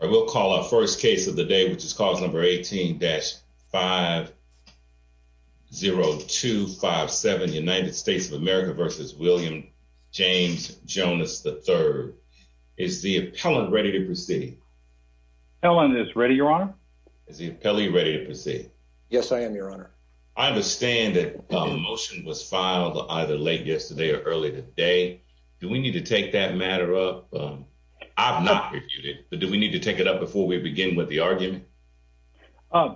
or we'll call our first case of the day, which is cause number 18-50257, United States of America v. William James Jonas, III. Is the appellant ready to proceed? Appellant is ready, Your Honor. Is the appellee ready to proceed? Yes, I am, Your Honor. I understand that a motion was filed either late yesterday or early today. Do we need to take that matter up? I've not reviewed it, but do we need to take it up before we begin with the argument?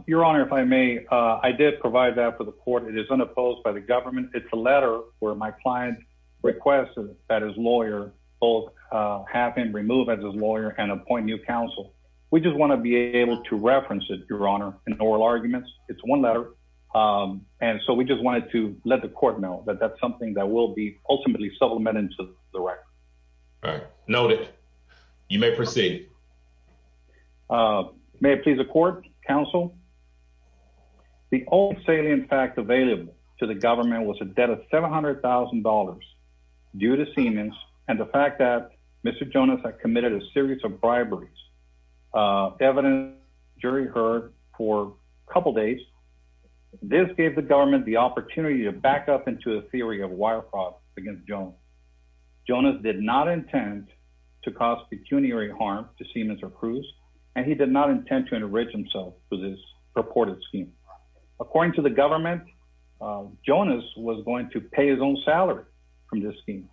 Your Honor, if I may, I did provide that for the court. It is unopposed by the government. It's a letter where my client requested that his lawyer both have him removed as his lawyer and appoint new counsel. We just want to be able to reference it, Your Honor, in oral arguments. It's one letter, and so we just wanted to let the court know that that's something that will be ultimately supplemented to the record. All right. Noted. You may proceed. May it please the court, counsel? The only salient fact available to the government was a debt of $700,000 due to Siemens and the fact that Mr. Jonas had committed a series of briberies. Evidence jury heard for a couple days. This gave the government the opportunity to back up into a theory of wire fraud against Jonas. Jonas did not intend to cause pecuniary harm to Siemens or Cruz, and he did not intend to enrich himself with his purported scheme. According to the government, Jonas was going to pay his own salary from this scheme,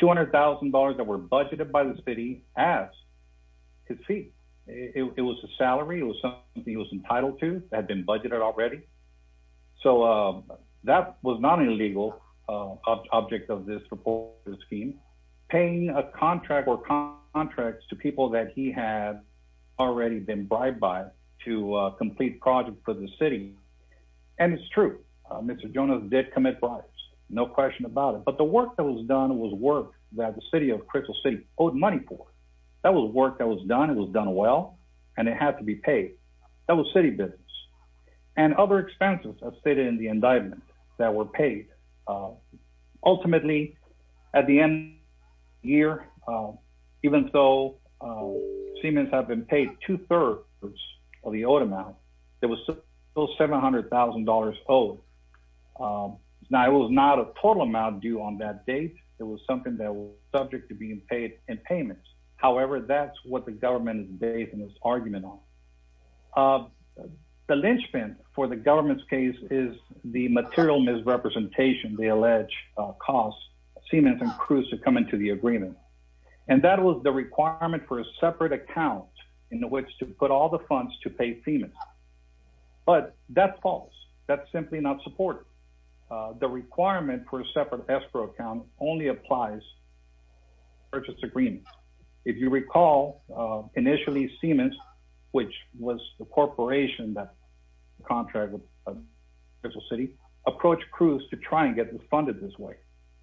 $200,000 that were budgeted by the city as his fee. It was a salary. It was something he was entitled to that had been budgeted already. So that was not an illegal object of this purported scheme. Paying a contract or contracts to people that he had already been bribed by to complete projects for the city, and it's true, Mr. Jonas did commit bribes. No question about it. But the work that was done was work that the city of Crystal City owed money for. That was work that was done. It was done well, and it had to be paid. That was city business. And other expenses, as stated in the indictment, that were paid. Ultimately, at the end of the year, even though Siemens had been paid two-thirds of the owed amount, it was still $700,000 owed. Now, it was not a total amount due on that date. It was something that was subject to being paid in payments. However, that's what the government is based in its argument on. The linchpin for the government's case is the material misrepresentation, the alleged cost, Siemens and Cruz to come into the agreement. And that was the requirement for a separate account in which to put all the funds to pay Siemens. But that's false. That's simply not supported. The requirement for a separate escrow account only applies to purchase agreements. If you recall, initially, Siemens, which was the corporation that contracted with Crystal City, approached Cruz to try and get them funded this way.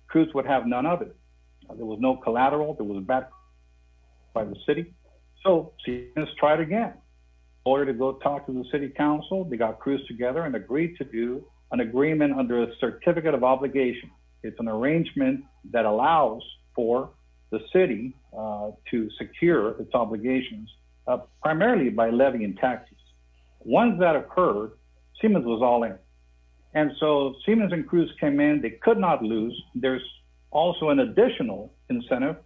Cruz would have none of it. There was no collateral. There was a bad credit by the city. So Siemens tried again. In order to go talk to the city council, they got Cruz together and agreed to do an agreement under a certificate of obligation. It's an arrangement that allows for the city to secure its obligations primarily by levying taxes. Once that occurred, Siemens was all in. And so Siemens and Cruz came in. They could not lose. There's also an additional incentive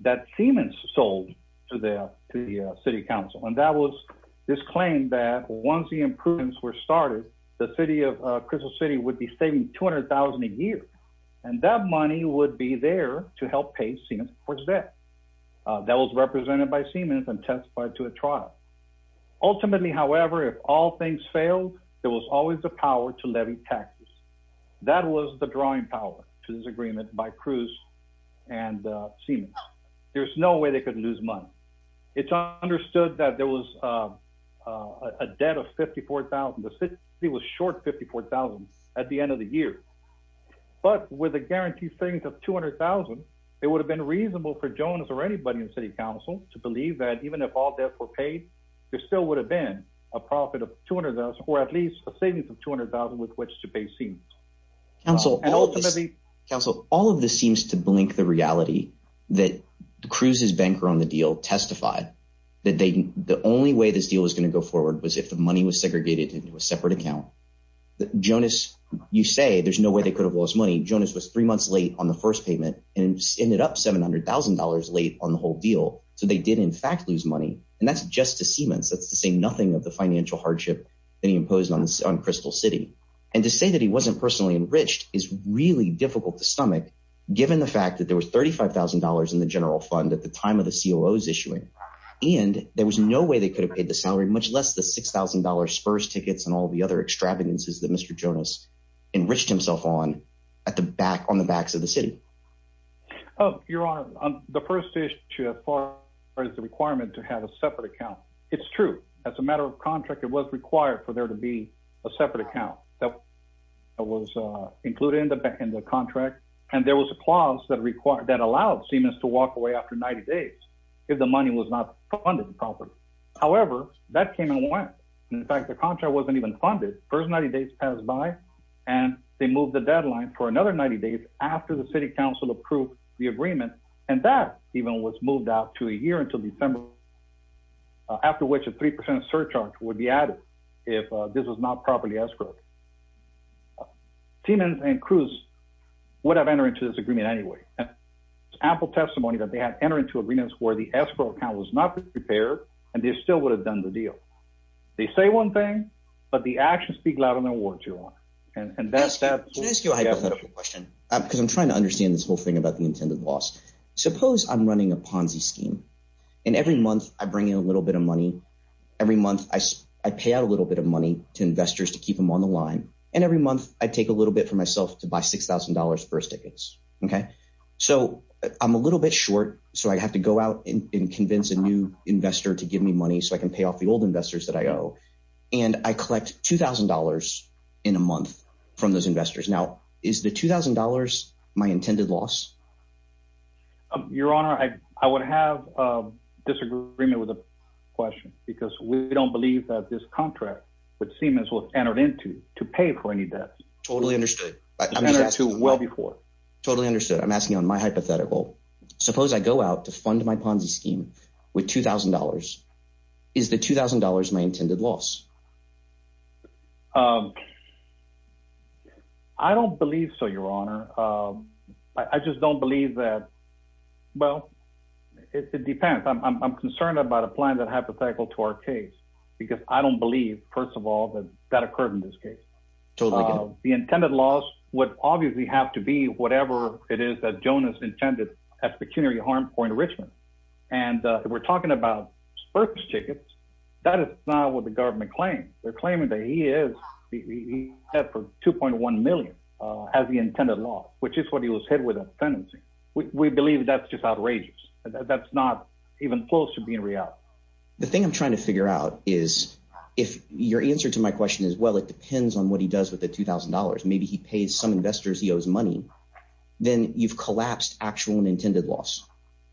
that Siemens sold to the city council. And that was this claim that once the improvements were started, the city of Crystal City would be saving $200,000 a year. And that money would be there to help pay Siemens for his debt. That was represented by Siemens and testified to a trial. Ultimately, however, if all things failed, there was always the power to levy taxes. That was the drawing power to this agreement by Cruz and Siemens. There's no way they could lose money. It's understood that there was a debt of $54,000. The city was short $54,000 at the end of the year. But with a guaranteed savings of $200,000, it would have been reasonable for Jones or anybody in city council to believe that even if all debts were paid, there still would have been a profit of $200,000 or at least a savings of $200,000 with which to pay Siemens. Council, all of this seems to blink the reality that Cruz's banker on the deal testified that the only way this deal was going to go forward was if the money was segregated into a separate account. Jonas, you say there's no way they could have lost money. Jonas was three months late on the first payment and ended up $700,000 late on the whole deal. So they did, in fact, lose money. And that's just to Siemens. That's to say nothing of the financial hardship that he imposed on Crystal City. And to say that he wasn't personally enriched is really difficult to stomach, given the fact that there was $35,000 in the general fund at the time of the COO's issuing. And there was no way they could have paid the salary, much less the $6,000 spurs tickets and all the other extravagances that Mr. Jonas enriched himself on at the back on the backs of the city. Your Honor, the first issue as far as the requirement to have a separate account, it's true. As a matter of contract, it was required for there to be a separate account that was included in the contract. And there was a clause that allowed Siemens to walk away after 90 days if the money was not funded properly. However, that came and went. In fact, the contract wasn't even funded. The first 90 days passed by, and they moved the deadline for another 90 days after the city council approved the agreement. And that even was moved out to a year until December, after which a 3% surcharge would be added if this was not properly escrowed. Siemens and Cruz would have entered into this agreement anyway. It's ample testimony that they had entered into agreements where the escrow account was not prepared, and they still would have done the deal. They say one thing, but the actions speak louder than words, Your Honor. And that's – Can I ask you a hypothetical question? Because I'm trying to understand this whole thing about the intended loss. Suppose I'm running a Ponzi scheme, and every month I bring in a little bit of money. Every month I pay out a little bit of money to investors to keep them on the line, and every month I take a little bit for myself to buy $6,000 first tickets. So I'm a little bit short, so I have to go out and convince a new investor to give me money so I can pay off the old investors that I owe. And I collect $2,000 in a month from those investors. Now, is the $2,000 my intended loss? Your Honor, I would have a disagreement with the question because we don't believe that this contract with Siemens was entered into to pay for any debts. Totally understood. Totally understood. I'm asking you on my hypothetical. Suppose I go out to fund my Ponzi scheme with $2,000. Is the $2,000 my intended loss? I don't believe so, Your Honor. I just don't believe that – well, it depends. I'm concerned about applying that hypothetical to our case because I don't believe, first of all, that that occurred in this case. Totally agree. The intended loss would obviously have to be whatever it is that Jonas intended at Pecuniary Harm Point, Richmond. And we're talking about first tickets. That is not what the government claims. They're claiming that he is – he had for $2.1 million as the intended loss, which is what he was hit with at the tenancy. We believe that's just outrageous. That's not even close to being real. The thing I'm trying to figure out is if your answer to my question is, well, it depends on what he does with the $2,000. Maybe he pays some investors he owes money. Then you've collapsed actual and intended loss,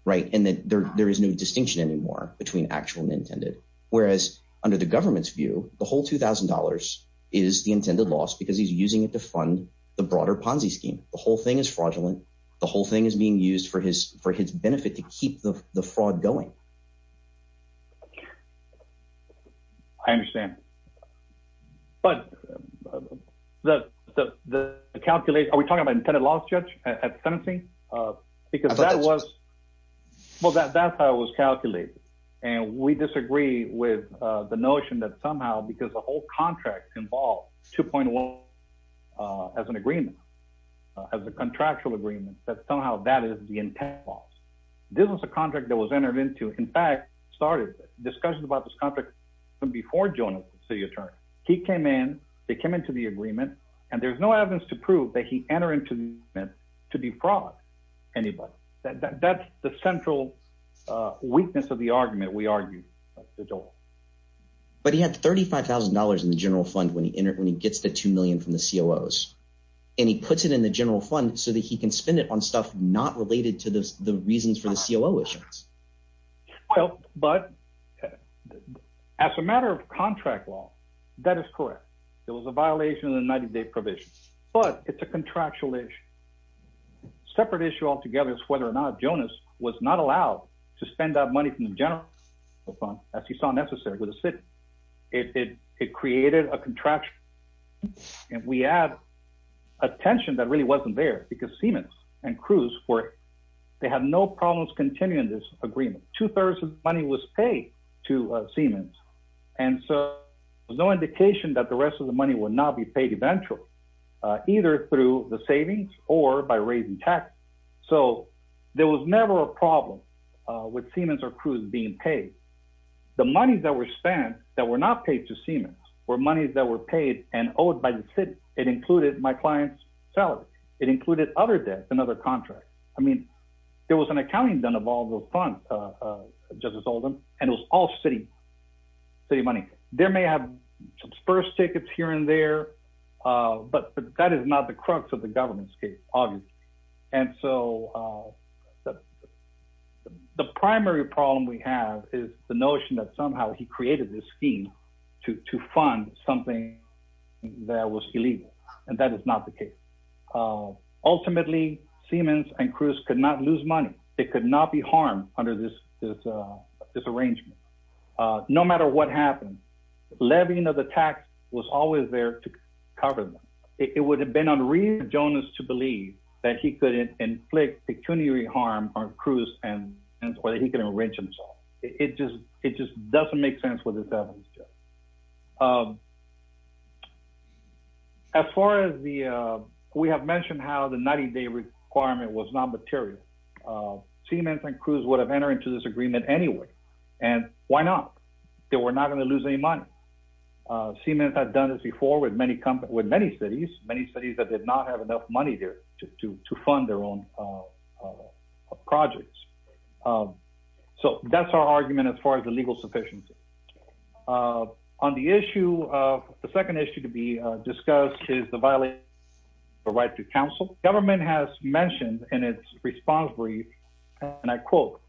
right? And there is no distinction anymore between actual and intended, whereas under the government's view, the whole $2,000 is the intended loss because he's using it to fund the broader Ponzi scheme. The whole thing is fraudulent. The whole thing is being used for his benefit to keep the fraud going. I understand. But the calculation – are we talking about intended loss, Judge, at the tenancy? Because that was – well, that's how it was calculated, and we disagree with the notion that somehow because the whole contract involved $2.1 million as an agreement, as a contractual agreement. But somehow that is the intended loss. This was a contract that was entered into, in fact, started discussions about this contract even before Jonas was city attorney. He came in. They came into the agreement, and there's no evidence to prove that he entered into the agreement to defraud anybody. That's the central weakness of the argument we argue with Jonas. But he had $35,000 in the general fund when he gets the $2 million from the COOs, and he puts it in the general fund so that he can spend it on stuff not related to the reasons for the COO issues. Well, but as a matter of contract law, that is correct. It was a violation of the 90-day provision, but it's a contractual issue. Separate issue altogether is whether or not Jonas was not allowed to spend that money from the general fund as he saw necessary with the city. It created a contraction, and we add a tension that really wasn't there because Siemens and Cruz were – they had no problems continuing this agreement. Two-thirds of the money was paid to Siemens, and so there's no indication that the rest of the money would not be paid eventually either through the savings or by raising taxes. So there was never a problem with Siemens or Cruz being paid. The money that was spent that were not paid to Siemens were monies that were paid and owed by the city. It included my client's salary. It included other debts and other contracts. I mean, there was an accounting done of all the funds, Justice Oldham, and it was all city money. There may have some spurs tickets here and there, but that is not the crux of the government's case, obviously. And so the primary problem we have is the notion that somehow he created this scheme to fund something that was illegal, and that is not the case. Ultimately, Siemens and Cruz could not lose money. It could not be harmed under this arrangement. No matter what happened, levying of the tax was always there to cover them. It would have been unreasonable for Jonas to believe that he could inflict pecuniary harm on Cruz or that he could enrich himself. It just doesn't make sense with this evidence, Justice. As far as the – we have mentioned how the 90-day requirement was non-material. Siemens and Cruz would have entered into this agreement anyway, and why not? They were not going to lose any money. Siemens had done this before with many cities, many cities that did not have enough money there to fund their own projects. So that's our argument as far as the legal sufficiency. On the issue – the second issue to be discussed is the violation of the right to counsel. Government has mentioned in its response brief, and I quote,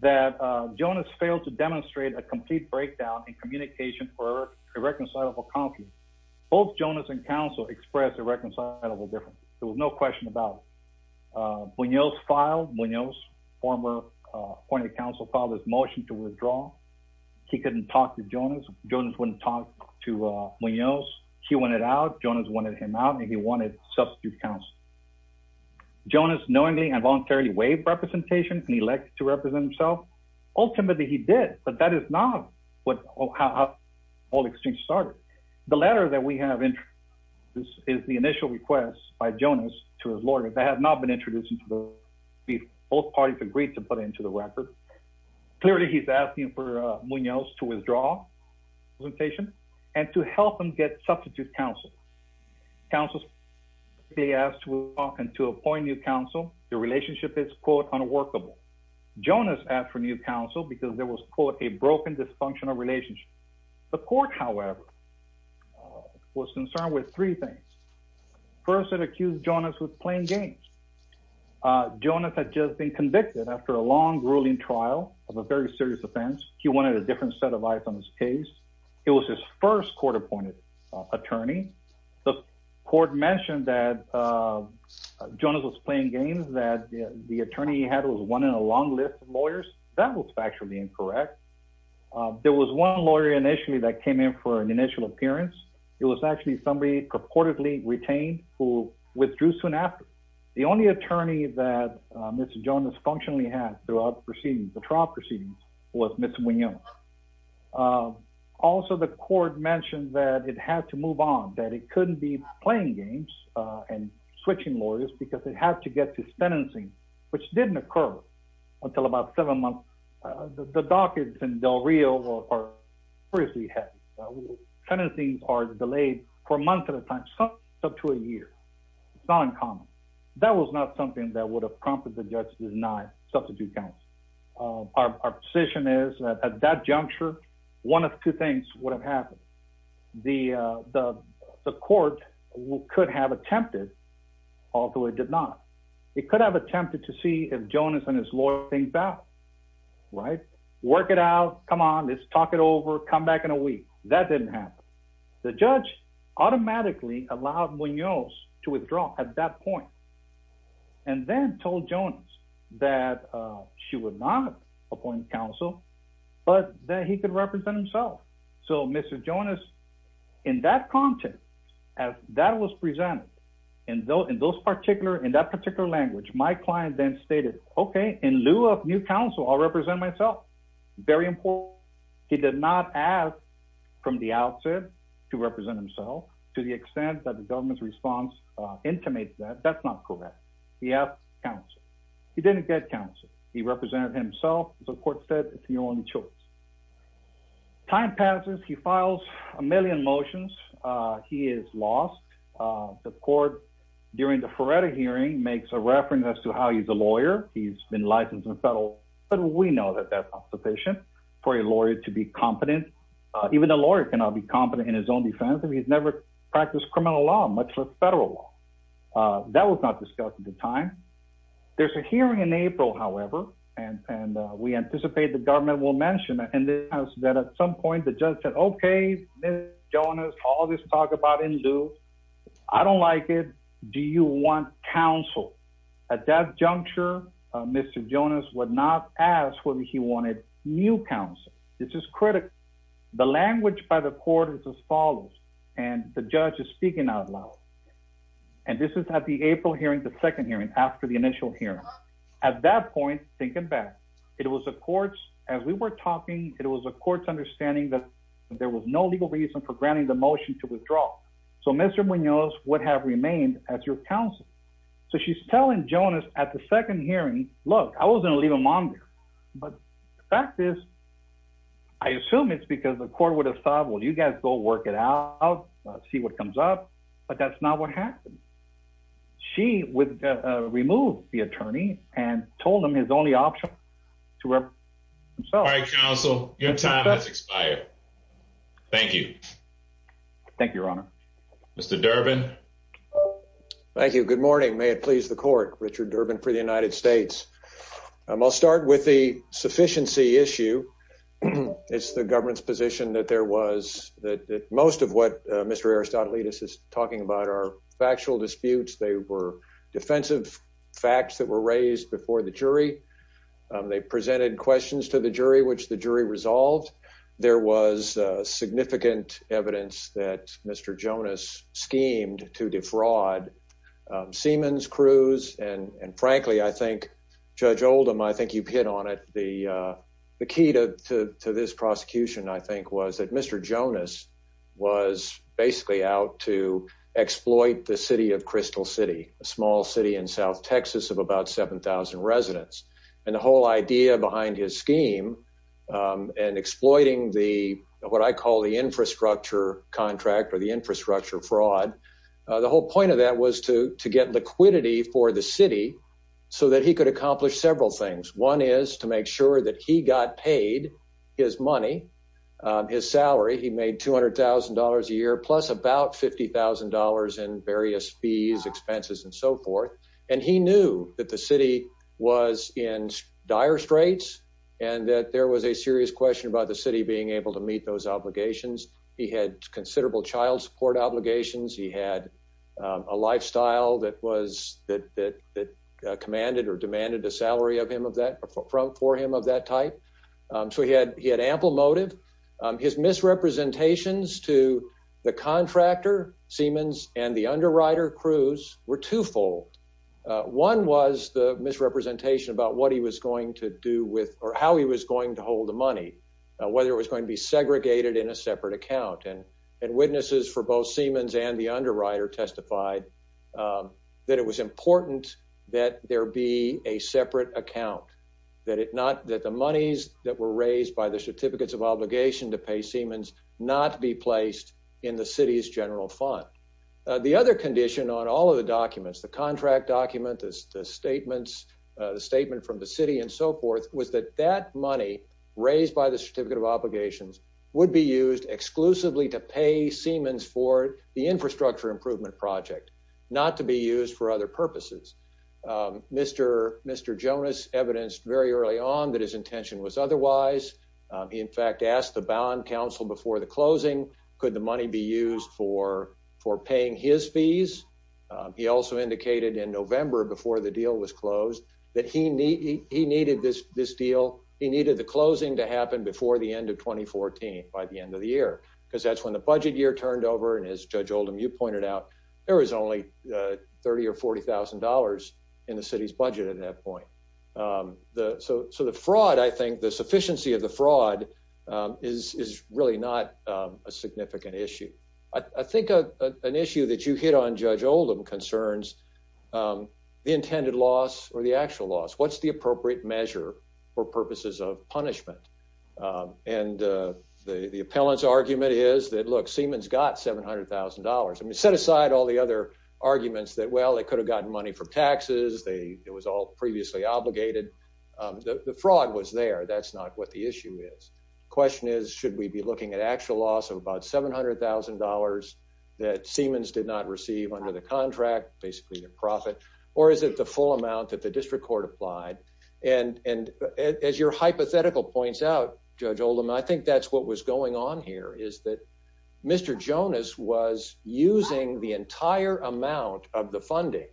that Jonas failed to demonstrate a complete breakdown in communication for irreconcilable conflict. Both Jonas and counsel expressed irreconcilable differences. There was no question about it. Munoz filed – Munoz, former appointed counsel, filed his motion to withdraw. He couldn't talk to Jonas. Jonas wouldn't talk to Munoz. He wanted out. Jonas wanted him out, and he wanted substitute counsel. Jonas knowingly and voluntarily waived representation, and he elected to represent himself. Ultimately, he did, but that is not how all exchanges started. The letter that we have – this is the initial request by Jonas to his lawyer that has not been introduced into the brief. Both parties agreed to put it into the record. Clearly, he's asking for Munoz to withdraw representation and to help him get substitute counsel. Counsel specifically asked Munoz to appoint new counsel. The relationship is, quote, unworkable. Jonas asked for new counsel because there was, quote, a broken dysfunctional relationship. The court, however, was concerned with three things. First, it accused Jonas of playing games. Jonas had just been convicted after a long, grueling trial of a very serious offense. He wanted a different set of eyes on his case. It was his first court-appointed attorney. The court mentioned that Jonas was playing games, that the attorney he had was one in a long list of lawyers. That was factually incorrect. There was one lawyer initially that came in for an initial appearance. It was actually somebody purportedly retained who withdrew soon after. The only attorney that Mr. Jonas functionally had throughout the proceedings, the trial proceedings, was Mr. Munoz. Also, the court mentioned that it had to move on, that it couldn't be playing games and switching lawyers because it had to get to sentencing, which didn't occur until about seven months. The dockets in Del Rio are seriously heavy. Sentencings are delayed for months at a time, sometimes up to a year. It's not uncommon. That was not something that would have prompted the judge to deny substitute counsel. Our position is that at that juncture, one of two things would have happened. The court could have attempted, although it did not. It could have attempted to see if Jonas and his lawyer think back, right? Work it out. Come on. Let's talk it over. Come back in a week. That didn't happen. The judge automatically allowed Munoz to withdraw at that point and then told Jonas that she would not appoint counsel but that he could represent himself. So, Mr. Jonas, in that context, as that was presented, in that particular language, my client then stated, okay, in lieu of new counsel, I'll represent myself. Very important. He did not ask from the outset to represent himself to the extent that the government's response intimated that. That's not correct. He asked counsel. He didn't get counsel. He represented himself. The court said it's your only choice. Time passes. He files a million motions. He is lost. The court, during the Feretta hearing, makes a reference as to how he's a lawyer. He's been licensed in federal, but we know that that's not sufficient for a lawyer to be competent. Even a lawyer cannot be competent in his own defense if he's never practiced criminal law, much less federal law. That was not discussed at the time. There's a hearing in April, however, and we anticipate the government will mention that at some point the judge said, okay, Mr. Jonas, all this talk about in lieu, I don't like it. Do you want counsel? At that juncture, Mr. Jonas would not ask whether he wanted new counsel. This is critical. The language by the court is as follows, and the judge is speaking out loud. And this is at the April hearing, the second hearing, after the initial hearing. At that point, thinking back, it was the court's, as we were talking, it was the court's understanding that there was no legal reason for granting the motion to withdraw. So Mr. Munoz would have remained as your counsel. So she's telling Jonas at the second hearing, look, I wasn't going to leave him on there. But the fact is, I assume it's because the court would have thought, well, you guys go work it out, see what comes up. But that's not what happened. She would remove the attorney and told him his only option to himself. All right, counsel, your time has expired. Thank you. Thank you, Your Honor. Mr. Durbin. Thank you. Good morning. May it please the court. Richard Durbin for the United States. I'll start with the sufficiency issue. It's the government's position that there was that most of what Mr. Aristotle is talking about are factual disputes. They were defensive facts that were raised before the jury. They presented questions to the jury, which the jury resolved. There was significant evidence that Mr. Jonas schemed to defraud Siemens crews. And frankly, I think Judge Oldham, I think you've hit on it. The key to this prosecution, I think, was that Mr. Jonas was basically out to exploit the city of Crystal City, a small city in south Texas of about 7000 residents. And the whole idea behind his scheme and exploiting the what I call the infrastructure contract or the infrastructure fraud. The whole point of that was to to get liquidity for the city so that he could accomplish several things. One is to make sure that he got paid his money, his salary. He made two hundred thousand dollars a year, plus about fifty thousand dollars in various fees, expenses and so forth. And he knew that the city was in dire straits and that there was a serious question about the city being able to meet those obligations. He had considerable child support obligations. He had a lifestyle that was that that that commanded or demanded a salary of him of that for him of that type. So he had he had ample motive. His misrepresentations to the contractor, Siemens and the underwriter crews were twofold. One was the misrepresentation about what he was going to do with or how he was going to hold the money, whether it was going to be segregated in a separate account. And and witnesses for both Siemens and the underwriter testified that it was important that there be a separate account, that it not that the monies that were raised by the certificates of obligation to pay Siemens not be placed in the city's general fund. The other condition on all of the documents, the contract document, the statements, the statement from the city and so forth, was that that money raised by the certificate of obligations would be used exclusively to pay Siemens for the infrastructure improvement project, not to be used for other purposes. Mr. Mr. Jonas evidenced very early on that his intention was otherwise. He, in fact, asked the bond council before the closing. Could the money be used for for paying his fees? He also indicated in November before the deal was closed that he he needed this this deal. He needed the closing to happen before the end of 2014 by the end of the year, because that's when the budget year turned over. And as Judge Oldham, you pointed out, there was only 30 or 40 thousand dollars in the city's budget at that point. So so the fraud, I think the sufficiency of the fraud is really not a significant issue. I think an issue that you hit on, Judge Oldham, concerns the intended loss or the actual loss. What's the appropriate measure for purposes of punishment? And the appellant's argument is that, look, Siemens got seven hundred thousand dollars. I mean, set aside all the other arguments that, well, they could have gotten money from taxes. They it was all previously obligated. The fraud was there. That's not what the issue is. Question is, should we be looking at actual loss of about seven hundred thousand dollars that Siemens did not receive under the contract? Basically, the profit. Or is it the full amount that the district court applied? And and as your hypothetical points out, Judge Oldham, I think that's what was going on here, is that Mr. Jonas was using the entire amount of the funding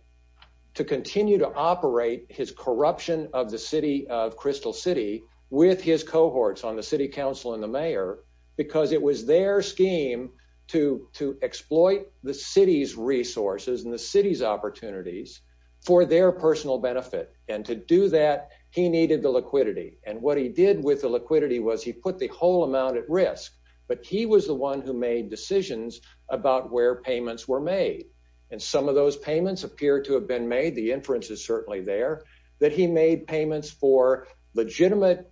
to continue to operate his corruption of the city of Crystal City with his cohorts on the city council and the mayor, because it was their scheme to to exploit the city's resources and the city's opportunities for their personal benefit. And to do that, he needed the liquidity. And what he did with the liquidity was he put the whole amount at risk. But he was the one who made decisions about where payments were made. And some of those payments appear to have been made. The inference is certainly there that he made payments for legitimate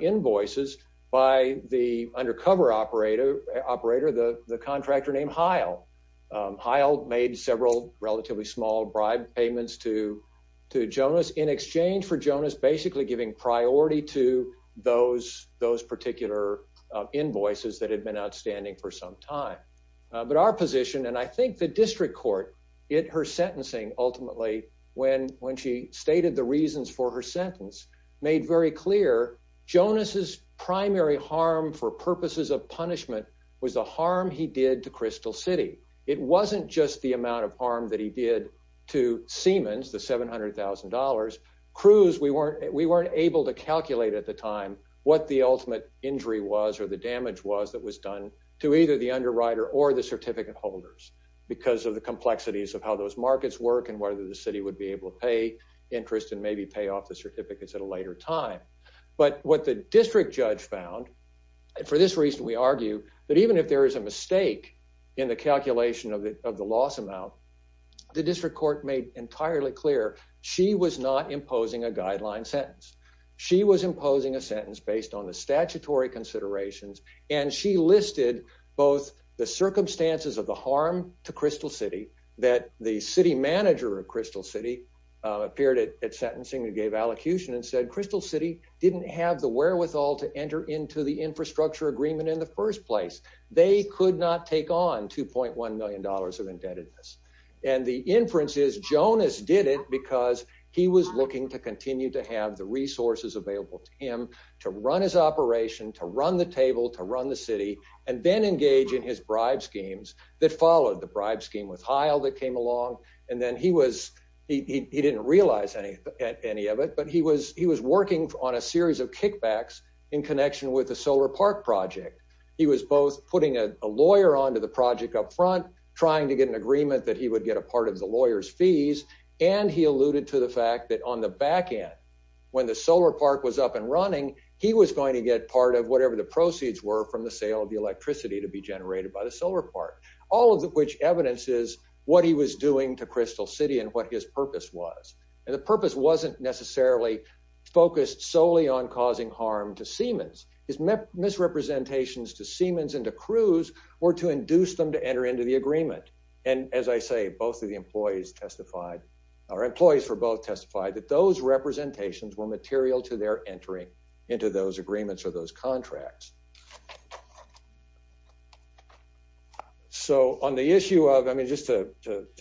invoices by the undercover operator operator. The contractor named Heil Heil made several relatively small bribe payments to to Jonas in exchange for Jonas basically giving priority to those those particular invoices that had been outstanding for some time. But our position and I think the district court in her sentencing, ultimately, when when she stated the reasons for her sentence made very clear Jonas's primary harm for purposes of punishment was the harm he did to Crystal City. It wasn't just the amount of harm that he did to Siemens, the $700,000 crews. We weren't we weren't able to calculate at the time what the ultimate injury was or the damage was that was done to either the underwriter or the certificate holders because of the complexities of how those markets work and whether the city would be able to pay interest and maybe pay off the certificates at a later time. But what the district judge found for this reason, we argue that even if there is a mistake in the calculation of the of the loss amount, the district court made entirely clear she was not imposing a guideline sentence. She was imposing a sentence based on the statutory considerations and she listed both the circumstances of the harm to Crystal City that the city manager of Crystal City appeared at sentencing and gave allocution and said Crystal City didn't have the wherewithal to enter into the infrastructure agreement in the first place. They could not take on $2.1 million of indebtedness and the inference is Jonas did it because he was looking to continue to have the resources available to him to run his operation to run the table to run the city and then engage in his bribe schemes that followed the bribe scheme with Hyle that came along and then he was he didn't realize any any of it but he was he was working on a series of kickbacks in connection with the solar park project. He was both putting a lawyer on to the project up front trying to get an agreement that he would get a part of the lawyers fees and he alluded to the fact that on the back end when the solar park was up and running. He was going to get part of whatever the proceeds were from the sale of the electricity to be generated by the solar park, all of which evidence is what he was doing to Crystal City and what his purpose was. And the purpose wasn't necessarily focused solely on causing harm to Siemens is misrepresentations to Siemens and to cruise or to induce them to enter into the agreement. And as I say, both of the employees testified, our employees for both testified that those representations were material to their entering into those agreements or those contracts. So, on the issue of I mean just to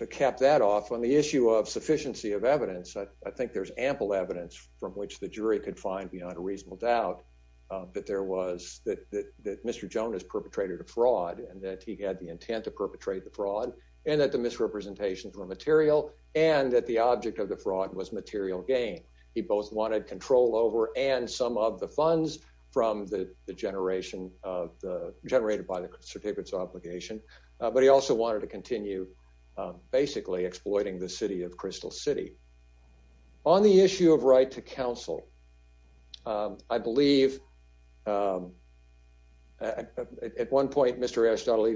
cap that off on the issue of sufficiency of evidence I think there's ample evidence from which the jury could find beyond a reasonable doubt that there was that Mr. Jones perpetrated a fraud and that he had the intent to perpetrate the fraud, and that the misrepresentations were material, and that the object of the fraud was material gain. He both wanted control over and some of the funds from the generation of the generated by the certificates obligation, but he also wanted to continue. Basically exploiting the city of Crystal City on the issue of right to counsel. I believe. At one point, Mr. else, a new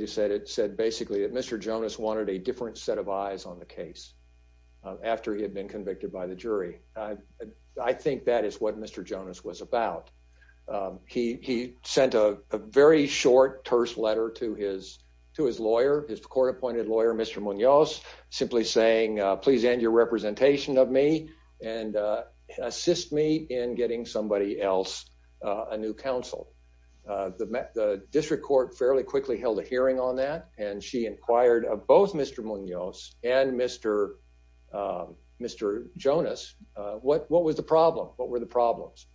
council. The district court fairly quickly held a hearing on that, and she inquired of both Mr Munoz, and Mr. Mr. Jonas. What, what was the problem, what were the problems.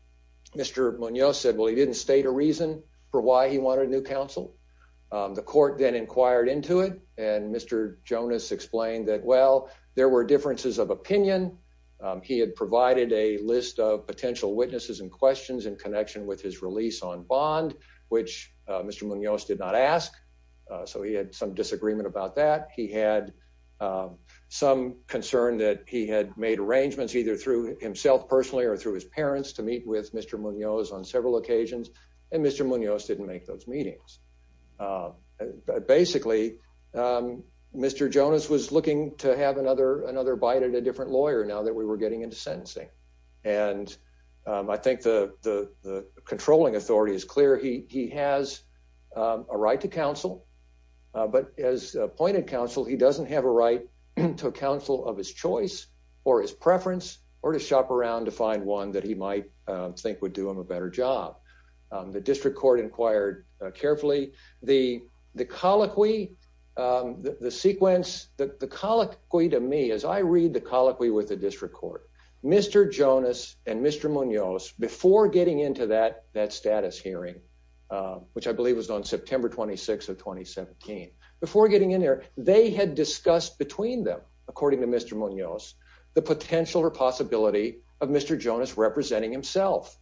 Mr Munoz said well he didn't state a reason for why he wanted a new council. The court then inquired into it, and Mr. Jonas explained that well, there were differences of opinion. He had provided a list of potential witnesses and questions in connection with his release on bond, which Mr Munoz did not ask. So he had some disagreement about that he had some concern that he had made arrangements either through himself personally or through his parents to meet with Mr Munoz on several occasions, and Mr Munoz didn't make those meetings. Basically, Mr. Jonas was looking to have another another bite at a different lawyer now that we were getting into sentencing. And I think the, the, the controlling authority is clear he has a right to counsel. But as appointed counsel he doesn't have a right to counsel of his choice, or his preference, or to shop around to find one that he might think would do him a better job. The district court inquired carefully, the, the colloquy. The sequence that the colloquy to me as I read the colloquy with the district court, Mr. Jonas, and Mr Munoz before getting into that that status hearing, which I believe was on September 26 of 2017 before getting in there, they had discussed between them, according to Mr Munoz, the potential or possibility of Mr Jonas representing himself.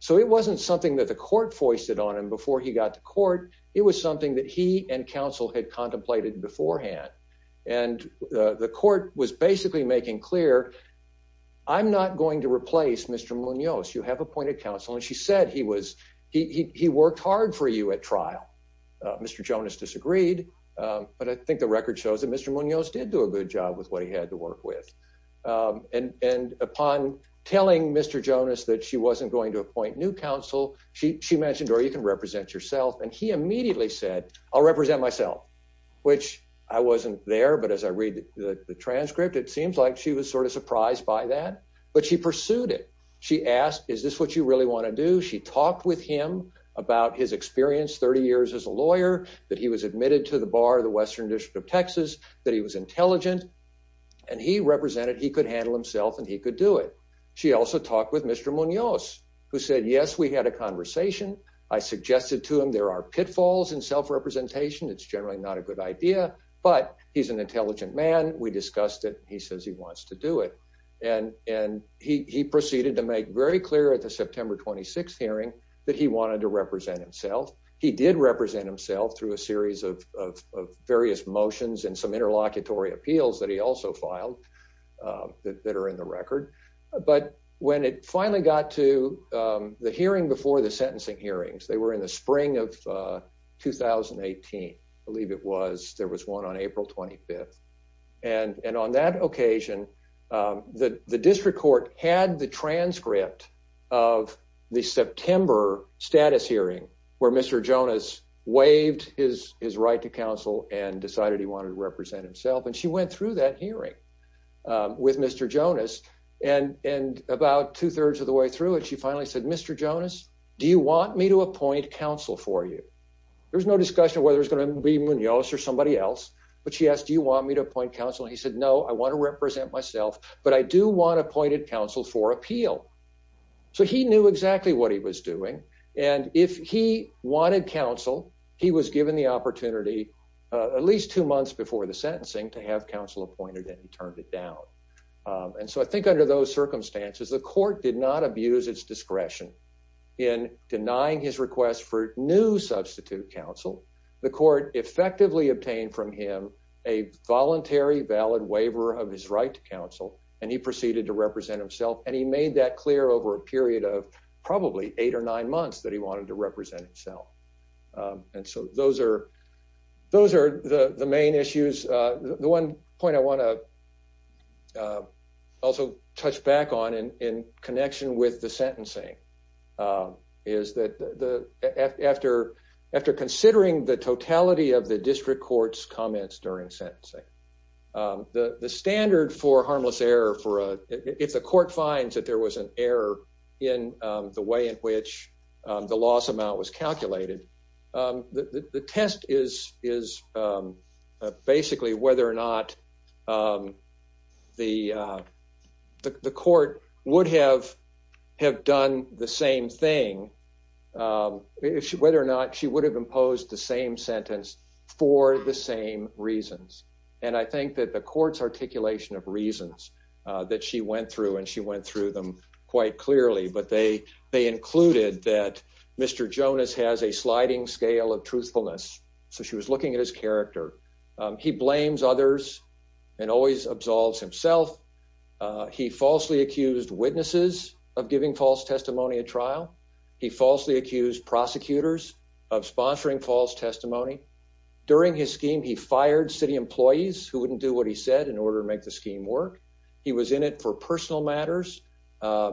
So it wasn't something that the court foisted on him before he got to court, it was something that he and counsel had contemplated beforehand, and the court was basically making clear. I'm not going to replace Mr Munoz you have appointed counsel and she said he was he worked hard for you at trial. Mr Jonas disagreed. But I think the record shows that Mr Munoz did do a good job with what he had to work with. And upon telling Mr Jonas that she wasn't going to appoint new counsel, she mentioned or you can represent yourself and he immediately said, I'll represent myself, which I wasn't there but as I read the transcript it seems like she was sort of surprised by that, but she pursued it. She asked, is this what you really want to do she talked with him about his experience 30 years as a lawyer that he was admitted to the bar the Western District of Texas, that he was intelligent. And he represented he could handle himself and he could do it. She also talked with Mr Munoz, who said yes we had a conversation. I suggested to him there are pitfalls and self representation it's generally not a good idea, but he's an intelligent man, we discussed it, he says he wants to do it. And, and he proceeded to make very clear at the September 26 hearing that he wanted to represent himself. He did represent himself through a series of various motions and some interlocutory appeals that he also filed that are in the record. But when it finally got to the hearing before the sentencing hearings they were in the spring of 2018, I believe it was there was one on April 25. And, and on that occasion, that the district court had the transcript of the September status hearing, where Mr Jonas waived his, his right to counsel and decided he wanted to represent himself and she went through that hearing with Mr Jonas and and about two thirds of the way through it she finally said Mr Jonas, do you want me to appoint counsel for you. There's no discussion whether it's going to be Munoz or somebody else, but she asked you want me to appoint counsel he said no I want to represent myself, but I do want appointed counsel for appeal. So he knew exactly what he was doing. And if he wanted counsel, he was given the opportunity, at least two months before the sentencing to have counsel appointed and he turned it down. And so I think under those circumstances the court did not abuse its discretion in denying his request for new substitute counsel, the court effectively obtained from him a voluntary valid waiver of his right to counsel, and he proceeded to represent himself and he made that clear over a period of probably eight or nine months that he wanted to represent himself. And so those are those are the main issues. The one point I want to also touch back on in connection with the sentencing. Is that the after after considering the totality of the district courts comments during sentencing. The standard for harmless error for a if the court finds that there was an error in the way in which the loss amount was calculated. The test is is basically whether or not the court would have have done the same thing. If she whether or not she would have imposed the same sentence for the same reasons. And I think that the courts articulation of reasons that she went through and she went through them quite clearly but they they included that Mr. Jonas has a sliding scale of truthfulness. So she was looking at his character. He blames others and always absolves himself. He falsely accused witnesses of giving false testimony at trial. He falsely accused prosecutors of sponsoring false testimony. During his scheme he fired city employees who wouldn't do what he said in order to make the scheme work. He was in it for personal matters.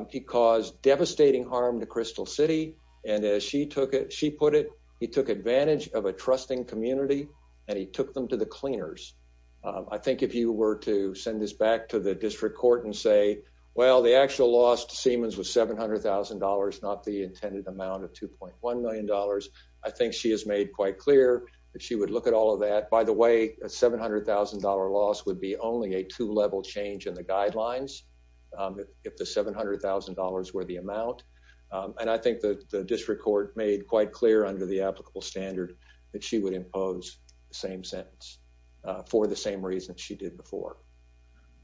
He caused devastating harm to Crystal City. And as she took it she put it. He took advantage of a trusting community and he took them to the cleaners. I think if you were to send this back to the district court and say, well, the actual lost Siemens was $700,000 not the intended amount of $2.1 million. I think she has made quite clear that she would look at all of that. By the way, a $700,000 loss would be only a two level change in the guidelines. If the $700,000 were the amount and I think that the district court made quite clear under the applicable standard that she would impose the same sentence for the same reason she did before.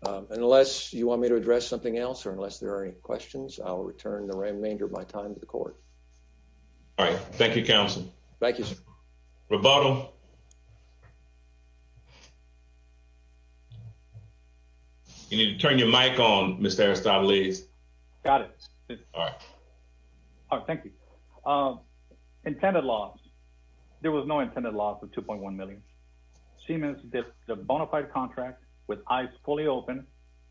Unless you want me to address something else or unless there are any questions, I'll return the remainder of my time to the court. All right. Thank you. Council. Thank you. Roboto. You need to turn your mic on, Mr. Aristotle. Got it. Thank you. Intended loss. There was no intended loss of $2.1 million. Siemens did the bona fide contract with eyes fully open.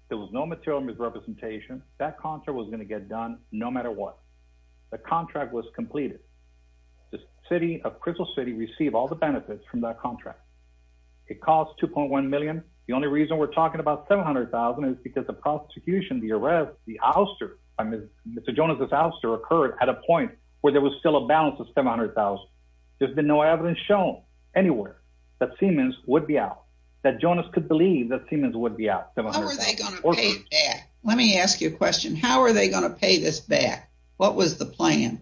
There was no material misrepresentation. That contract was going to get done no matter what. The contract was completed. The city of Crystal City received all the benefits from that contract. It cost $2.1 million. The only reason we're talking about $700,000 is because the prosecution, the arrest, the ouster by Mr. Jonas' ouster occurred at a point where there was still a balance of $700,000. There's been no evidence shown anywhere that Siemens would be out, that Jonas could believe that Siemens would be out. Let me ask you a question. How are they going to pay this back? What was the plan?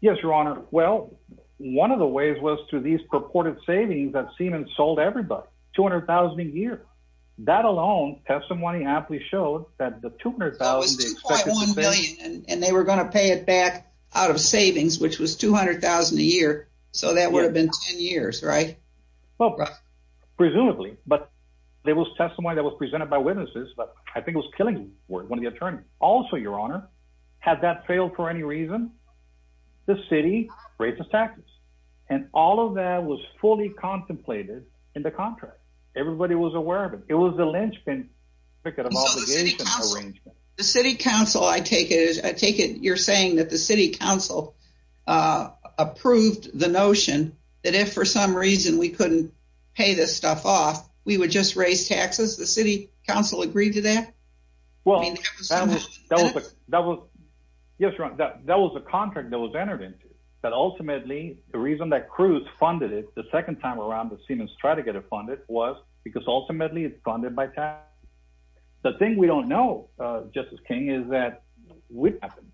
Yes, Your Honor. Well, one of the ways was through these purported savings that Siemens sold everybody. $200,000 a year. That alone testimony aptly showed that the $200,000. That was $2.1 million and they were going to pay it back out of savings, which was $200,000 a year. So that would have been 10 years, right? Well, presumably, but there was testimony that was presented by witnesses, but I think it was Killingworth, one of the attorneys. Also, Your Honor, had that failed for any reason, the city raised its taxes. And all of that was fully contemplated in the contract. Everybody was aware of it. It was the lynchpin. The city council, I take it, you're saying that the city council approved the notion that if for some reason we couldn't pay this stuff off, we would just raise taxes. The city council agreed to that? Yes, Your Honor. That was a contract that was entered into. But ultimately, the reason that Cruz funded it the second time around that Siemens tried to get it funded was because ultimately it's funded by taxes. The thing we don't know, Justice King, is that would happen.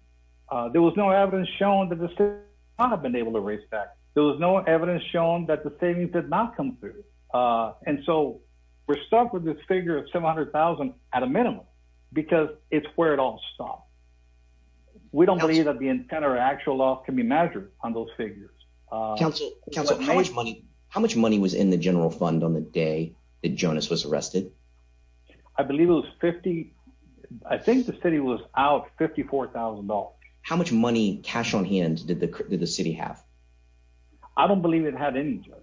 There was no evidence shown that the city would not have been able to raise taxes. There was no evidence shown that the savings did not come through. And so we're stuck with this figure of $700,000 at a minimum, because it's where it all stopped. We don't believe that the intent or actual law can be measured on those figures. Counsel, how much money was in the general fund on the day that Jonas was arrested? I believe it was $50,000. I think the city was out $54,000. How much money, cash on hand, did the city have? I don't believe it had any, Judge.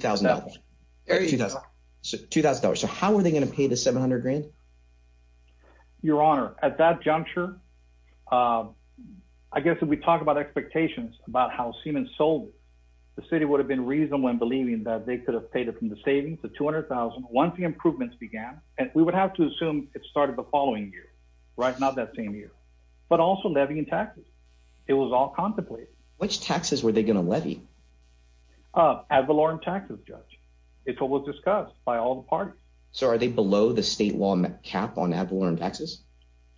$2,000. So how were they going to pay the $700,000? Your Honor, at that juncture, I guess if we talk about expectations about how Siemens sold it, the city would have been reasonable in believing that they could have paid it from the savings, the $200,000, once the improvements began. And we would have to assume it started the following year, right? Not that same year. But also levying taxes. It was all contemplated. Ad valorem taxes, Judge. It's what was discussed by all the parties. So are they below the state law cap on ad valorem taxes?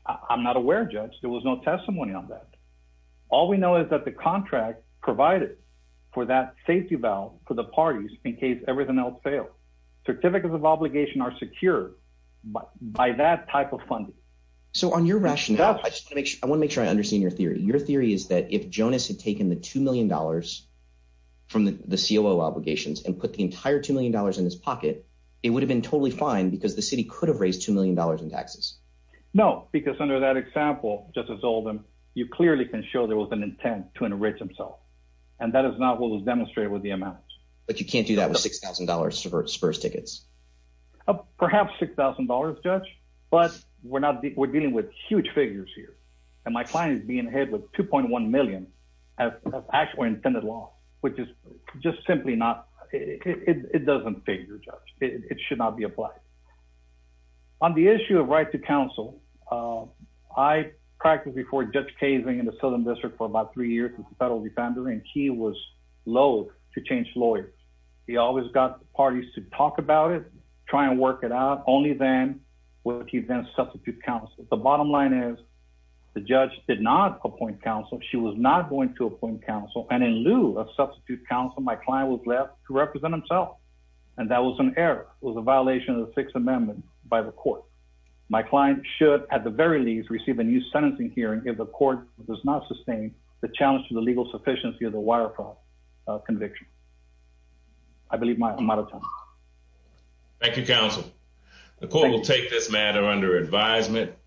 I'm not aware, Judge. There was no testimony on that. All we know is that the contract provided for that safety valve for the parties in case everything else failed. Certificates of obligation are secured by that type of funding. So on your rationale, I want to make sure I understand your theory. Your theory is that if Jonas had taken the $2 million from the COO obligations and put the entire $2 million in his pocket, it would have been totally fine because the city could have raised $2 million in taxes. No, because under that example, Justice Oldham, you clearly can show there was an intent to enrich himself. And that is not what was demonstrated with the amount. But you can't do that with $6,000 spurs tickets. Perhaps $6,000, Judge, but we're dealing with huge figures here. And my client is being hit with $2.1 million of actual intended loss, which is just simply not, it doesn't figure, Judge. It should not be applied. On the issue of right to counsel, I practiced before Judge Kaysing in the Southern District for about three years as a federal defender, and he was loathe to change lawyers. He always got the parties to talk about it, try and work it out, only then would he then substitute counsel. The bottom line is the judge did not appoint counsel. She was not going to appoint counsel. And in lieu of substitute counsel, my client was left to represent himself. And that was an error. It was a violation of the Sixth Amendment by the court. My client should, at the very least, receive a new sentencing hearing if the court does not sustain the challenge to the legal sufficiency of the wire fraud conviction. I believe I'm out of time. Thank you, counsel. The court will take this matter under advisement.